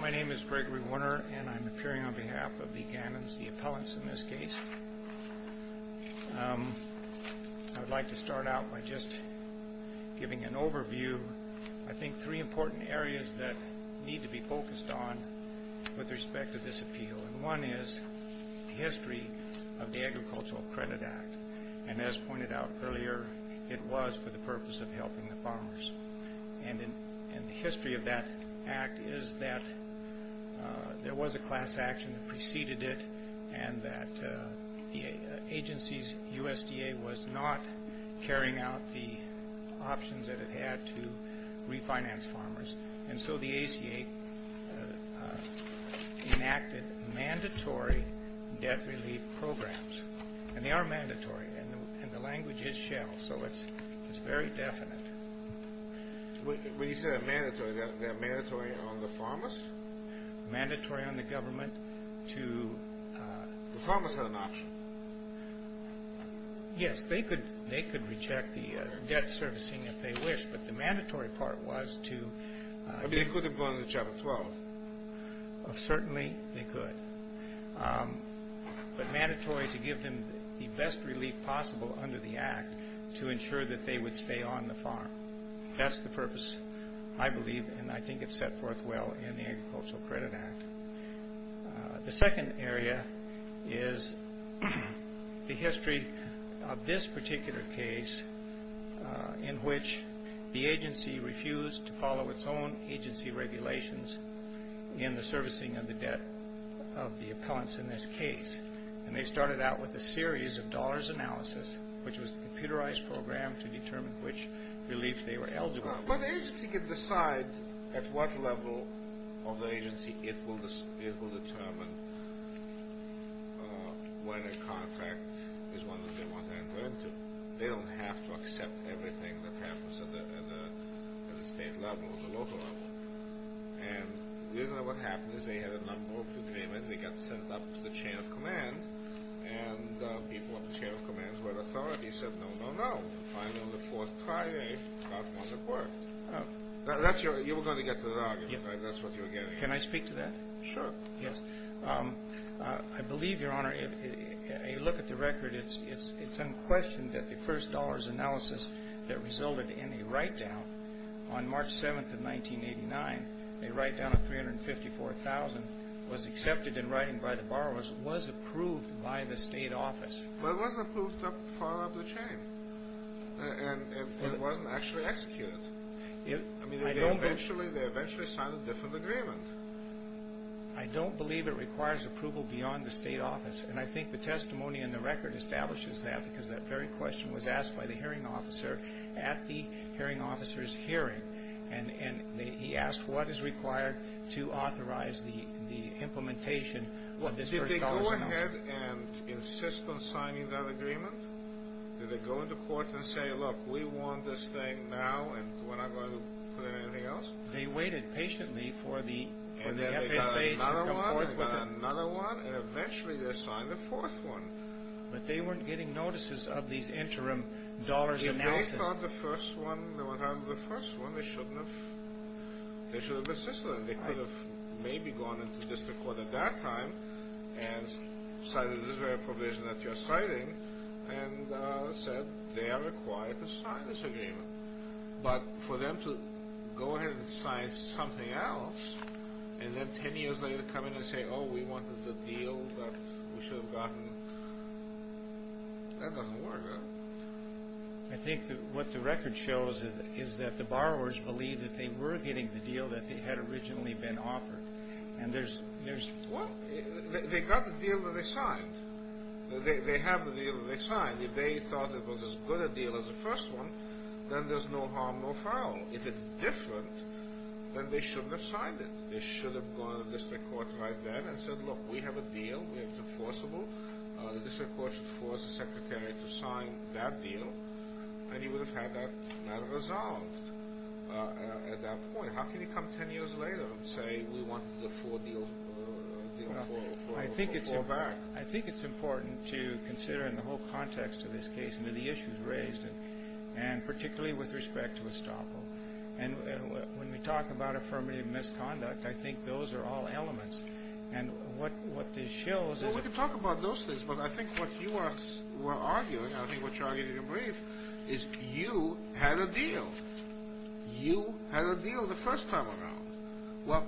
My name is Gregory Warner and I'm appearing on behalf of the Gannons, the appellants in this case. I would like to start out by just giving an overview, I think three important areas that need to be focused on with respect to this appeal and one is the history of the Agricultural Credit Act and as pointed out earlier it was for the purpose of helping the farmers and in the history of that act is that there was a class action that preceded it and that the agency's USDA was not carrying out the options that it had to refinance farmers and so the ACA enacted mandatory debt relief programs and they are mandatory and the language is shallow so it's it's very definite. When you say they're mandatory, they're mandatory on the farmers? Mandatory on the government to... The farmers had an option. Yes, they could they could reject the debt servicing if they wish but the mandatory part was to... They could have gone to Chapter 12. Certainly they could but mandatory to give them the best relief possible under the act to ensure that they would stay on the farm. That's the purpose I believe and I think it's set forth well in the Agricultural Credit Act. The second area is the history of this particular case in which the agency refused to follow its own agency regulations in the servicing of the debt of the appellants in this case and they started out with a series of dollars analysis which was the computerized program to determine which relief they were eligible. But the agency could decide at what level of the agency it will determine when a contract is one that they want to enter into. They don't have to accept everything that happens at the state level or the local level. And you know what happened is they had a number of agreements. They got sent up to the chain of command and people at the chain of command's word authority said no, no, no. Finally on the fourth Friday, that's when it worked. That's your... You were going to get to that argument, right? That's what you were getting at. Can I speak to that? Sure. Yes. I believe, Your Honor, a look at the record it's unquestioned that the first dollars analysis that resulted in a write-down on March 7th of 1989, a write-down of $354,000 was accepted in writing by the borrowers was approved by the state office. But it wasn't approved to follow up the chain. And it wasn't actually executed. I mean, they eventually signed a different agreement. I don't believe it requires approval beyond the state office. And I think the testimony in the record establishes that because that very question was asked by the hearing officer at the hearing officer's hearing. And he asked what is required to authorize the implementation of this first dollar analysis. Did they go ahead and insist on signing that agreement? Did they go into court and say, look, we want this thing now and we're not going to put in anything else? They waited patiently for the FSA to come forth with it. They went through another one and eventually they signed the fourth one. But they weren't getting notices of these interim dollars analysis. If they thought the first one, they should have insisted on it. They could have maybe gone into district court at that time and cited this very provision that you're citing and said they are required to sign this agreement. But for them to go ahead and sign something else and then ten years later come in and say, oh, we wanted the deal that we should have gotten, that doesn't work. I think what the record shows is that the borrowers believed that they were getting the deal that they had originally been offered. And there's... They got the deal that they signed. They have the deal that they signed. If they thought it was as good a deal as the first one, then there's no harm, no foul. If it's different, then they shouldn't have signed it. They should have gone to district court right then and said, look, we have a deal. We have it enforceable. The district court should force the secretary to sign that deal. And he would have had that matter resolved at that point. How can he come ten years later and say we want the four deal... I think it's important to consider in the whole context of this case the issues raised, and particularly with respect to Estoppo. And when we talk about affirmative misconduct, I think those are all elements. And what this shows is... Well, we can talk about those things, but I think what you were arguing, I think what you argued in your brief, is you had a deal. You had a deal the first time around. Well,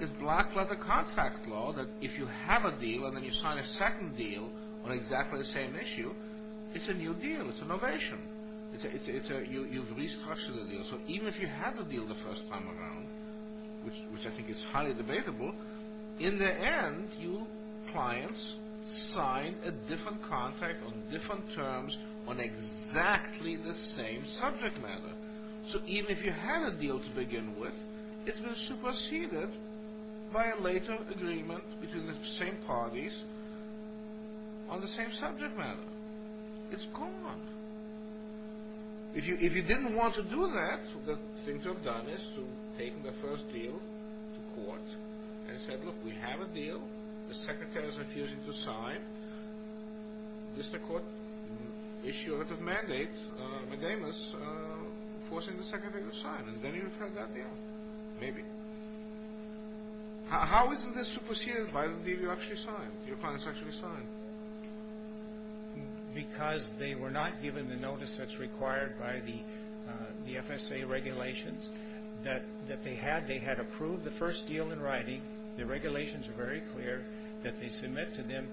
it's black leather contract law that if you have a deal and then you sign a second deal on exactly the same issue, it's a new deal. It's innovation. You've restructured the deal. So even if you had a deal the first time around, which I think is highly debatable, in the end, you clients signed a different contract on different terms on exactly the same subject matter. So even if you had a deal to begin with, it was superseded by a later agreement between the same parties on the same subject matter. It's gone. If you didn't want to do that, the thing to have done is to have taken the first deal to court and said, look, we have a deal. The Secretary is refusing to sign. The District Court issued a mandate mandamus forcing the Secretary to sign. And then you've had that deal. Maybe. How is this superseded by the deal you actually signed, your clients actually signed? Because they were not given the notice that's required by the FSA regulations that they had. They had approved the first deal in writing. The regulations were very clear that they submit to them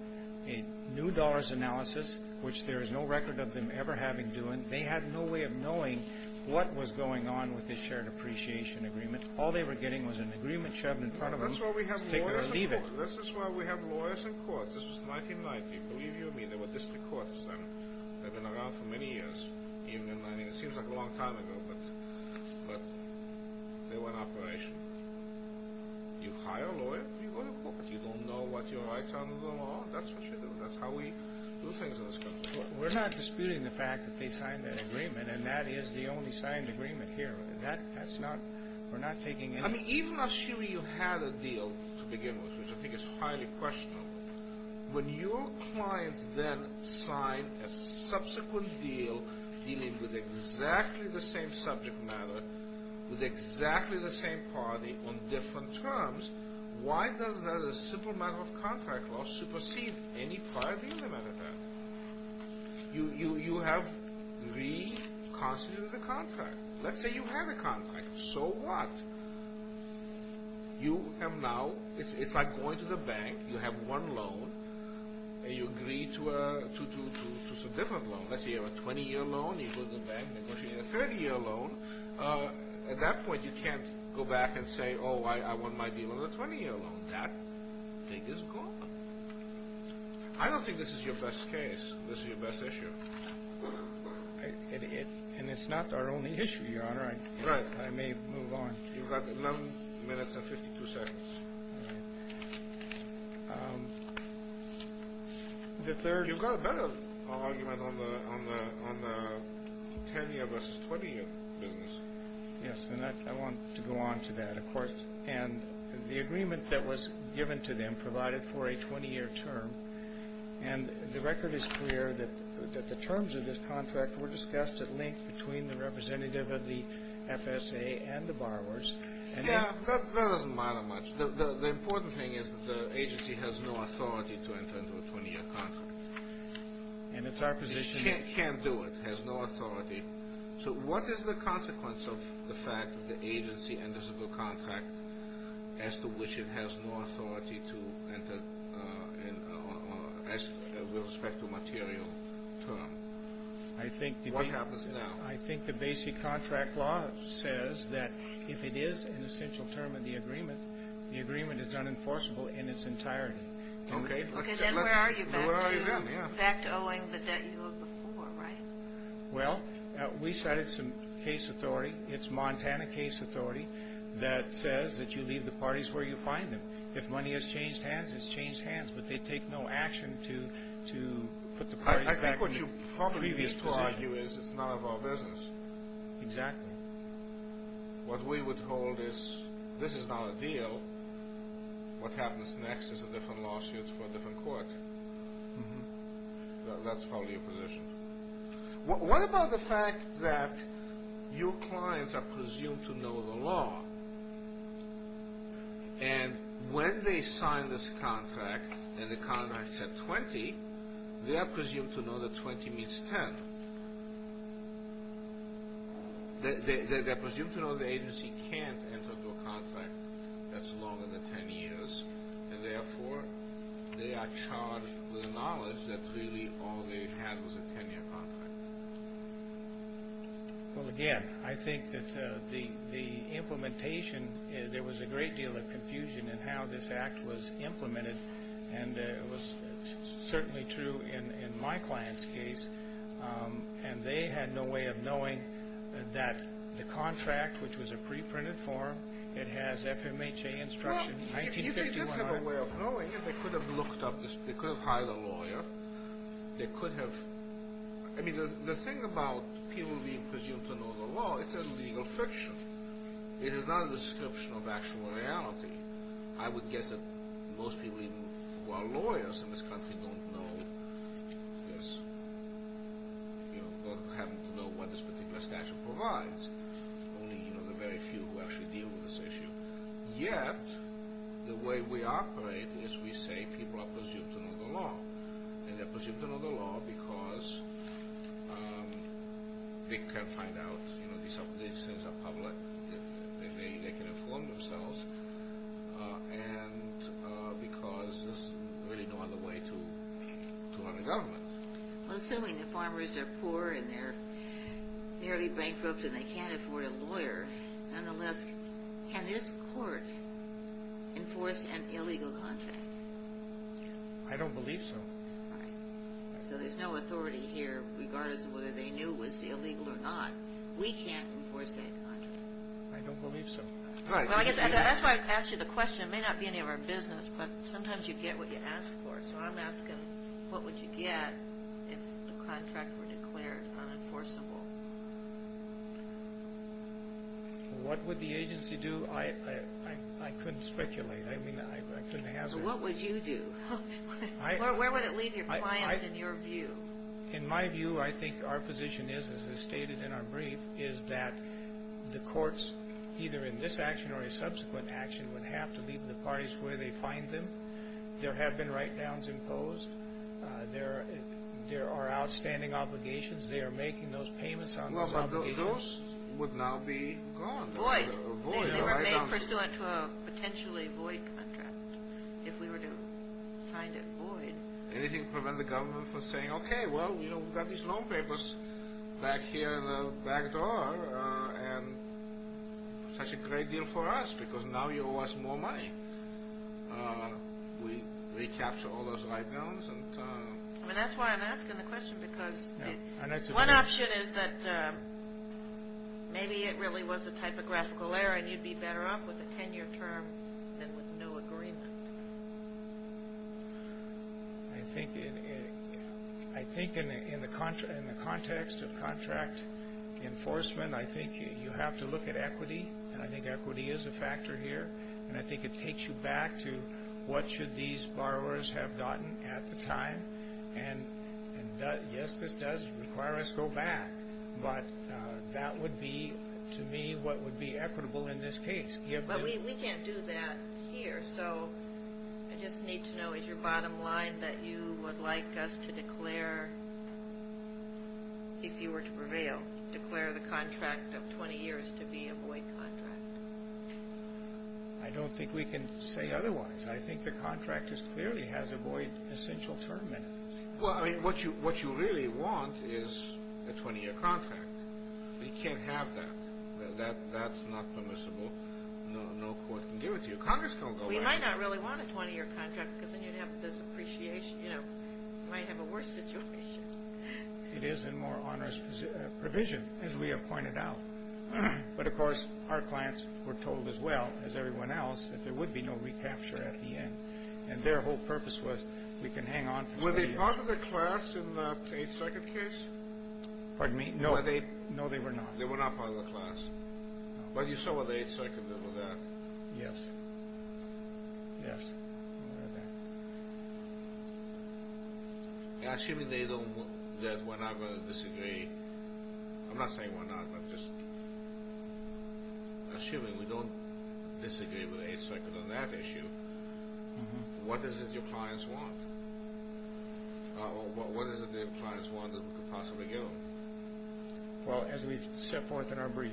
a new dollars analysis, which there is no record of them ever having done. They had no way of knowing what was going on with this shared appreciation agreement. All they were getting was an agreement shoved in front of them This is why we have lawyers in courts. This was 1990. Believe you me, there were District Courts then. They've been around for many years. It seems like a long time ago, but they were in operation. You hire a lawyer, you go to court. You don't know what your rights are under the law. That's what you do. That's how we do things in this country. We're not disputing the fact that they signed that agreement and that is the only signed agreement here. We're not taking any I mean, even assuming you had a deal to begin with, which I think is highly questionable, when your clients then sign a subsequent deal dealing with exactly the same subject matter with exactly the same party on different terms why does that as a simple matter of contract law supersede any prior deal they might have had? You have reconstituted the contract. Let's say you had a contract. So what? You have now It's like going to the bank. You have one loan and you agree to a different loan. Let's say you have a 20-year loan. You go to the bank and negotiate a 30-year loan. At that point, you can't go back and say, oh, I want my deal on a 20-year loan. That thing is gone. I don't think this is your best case. This is your best issue. And it's not our only issue, Your Honor. Right. I may move on. You've got 11 minutes and 52 seconds. Right. You've got a better argument on the 10-year versus 20-year business. Yes, and I want to go on to that, of course. And the agreement that was given to them provided for a 20-year term and the record is clear that the terms of this contract were discussed at length between the representative of the FSA and the borrowers. Yeah, but that doesn't matter much. The important thing is that the agency has no authority to enter into a 20-year contract. And it's our position... It can't do it. It has no authority. So what is the consequence of the fact that the agency enters into a contract as to which it has no authority to enter with respect to material term? What happens now? I think the basic contract law says that if it is an essential term in the agreement, the agreement is unenforceable in its entirety. Okay. Then where are you back to? Back to owing the debt you owed before, right? Well, we cited some case authority. It's Montana case authority that says that you leave the parties where you find them. If money has changed hands, it's changed hands, but they take no action to put the parties back in the previous position. I think what you probably need to argue is it's not of our business. Exactly. What we would hold is this is not a deal. What happens next is a different lawsuit for a different court. That's probably your position. What about the fact that your clients are presumed to know the law and when they sign this contract and the contract said 20, they're presumed to know that 20 meets 10. They're presumed to know the agency can't enter into a contract that's longer than 10 years and therefore they are charged with the knowledge that really all they had was a 10-year contract. Well, again, I think that the implementation, there was a great deal of confusion in how this act was implemented and it was certainly true in my client's case and they had no way of knowing that the contract, which was a pre-printed form, it has FMHA instruction. Well, if they did have a way of knowing it, they could have looked up, they could have hired a lawyer, they could have, I mean, the thing about people being presumed to know the statute, it is not a description of actual reality. I would guess that most people who are lawyers in this country don't know this, or haven't known what this particular statute provides. Only the very few who actually deal with this issue. Yet, the way we operate is we say people are presumed to know the law and they're presumed to know the law because they can't find out these things are public, they can inform themselves and because there's really no other way to run a government. Assuming that farmers are poor and they're barely bankrupt and they can't afford a lawyer, nonetheless, can this court enforce an illegal contract? I don't believe so. So there's no authority here regardless of whether they knew it was illegal or not. We can't enforce that contract. I don't believe so. That's why I asked you the question. It may not be any of our business but sometimes you get what you ask for. So I'm asking, what would you get if the contract were declared unenforceable? What would the agency do? I couldn't speculate. I mean, I couldn't hazard. What would you do? Where would it leave your clients in your view? In my view, I think our position is, as is stated in our brief, is that the courts, either in this action or a subsequent action, would have to leave the parties where they find them. There have been write-downs imposed. There are outstanding obligations. They are making those payments on those obligations. But those would now be gone. Void. They remain pursuant to a potentially void contract. If we were to find it void. Anything to prevent the government from saying, okay, well, we've got these loan papers back here in the back door and such a great deal for us because now you owe us more money. We'd recapture all those write-downs. That's why I'm asking the question because one option is that maybe it really was a typographical error and you'd be better off with a 10-year term than with no agreement. I think in the context of contract enforcement, I think you have to look at equity. I think equity is a factor here. And I think it takes you back to what should these borrowers have gotten at the time. And yes, this does require us to go back. But that would be to me what would be equitable in this case. But we can't do that here. So I just need to know is your bottom line that you would like us to declare if you were to prevail, declare the contract of 20 years to be a void contract? I don't think we can say otherwise. I think the contract clearly has a void essential term in it. Well, I mean, what you really want is a 20-year contract. We can't have that. That's not permissible. No court can deal with you. Congress can't go back. We might not really want a 20-year contract because then you'd have this appreciation. You might have a worse situation. It is a more onerous provision, as we have pointed out. But of course, our clients were told as well as everyone else that there would be no recapture at the end. And their whole purpose was we can hang on for 20 years. Were they part of the class in the 8-second case? Pardon me? No, they were not. They were not part of the class? No. But you saw what the 8-second did with that. Yes. Yes. Assuming they don't that we're not going to disagree, I'm not saying we're not, but just assuming we don't disagree with the 8-second on that issue, what is it your clients want? What is it your clients want that we could possibly give them? Well, as we set forth in our brief,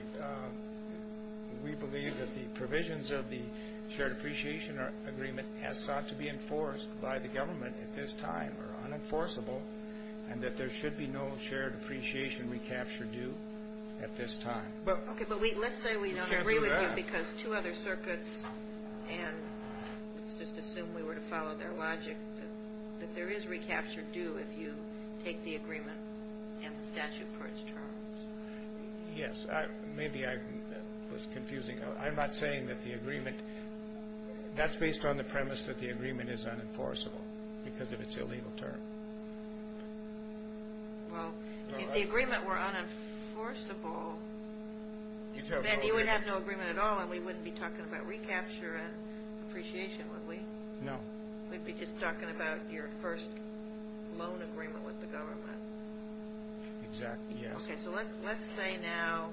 we believe that the provisions of the shared appreciation agreement has sought to be enforced by the government at this time are unenforceable and that there should be no shared appreciation recapture due at this time. Okay, but let's say we don't agree with you because two other circuits, and let's just assume we were to follow their logic, that there is recapture due if you take the agreement and the statute of parts charge. Yes, maybe I was confusing. I'm not saying that the agreement, that's based on the premise that the agreement is unenforceable because of its illegal term. Well, if the agreement were unenforceable, then you would have no agreement at all and we wouldn't be talking about recapture and appreciation, would we? No. We'd be just talking about your first loan agreement with the government. Exactly, yes. Okay, so let's say now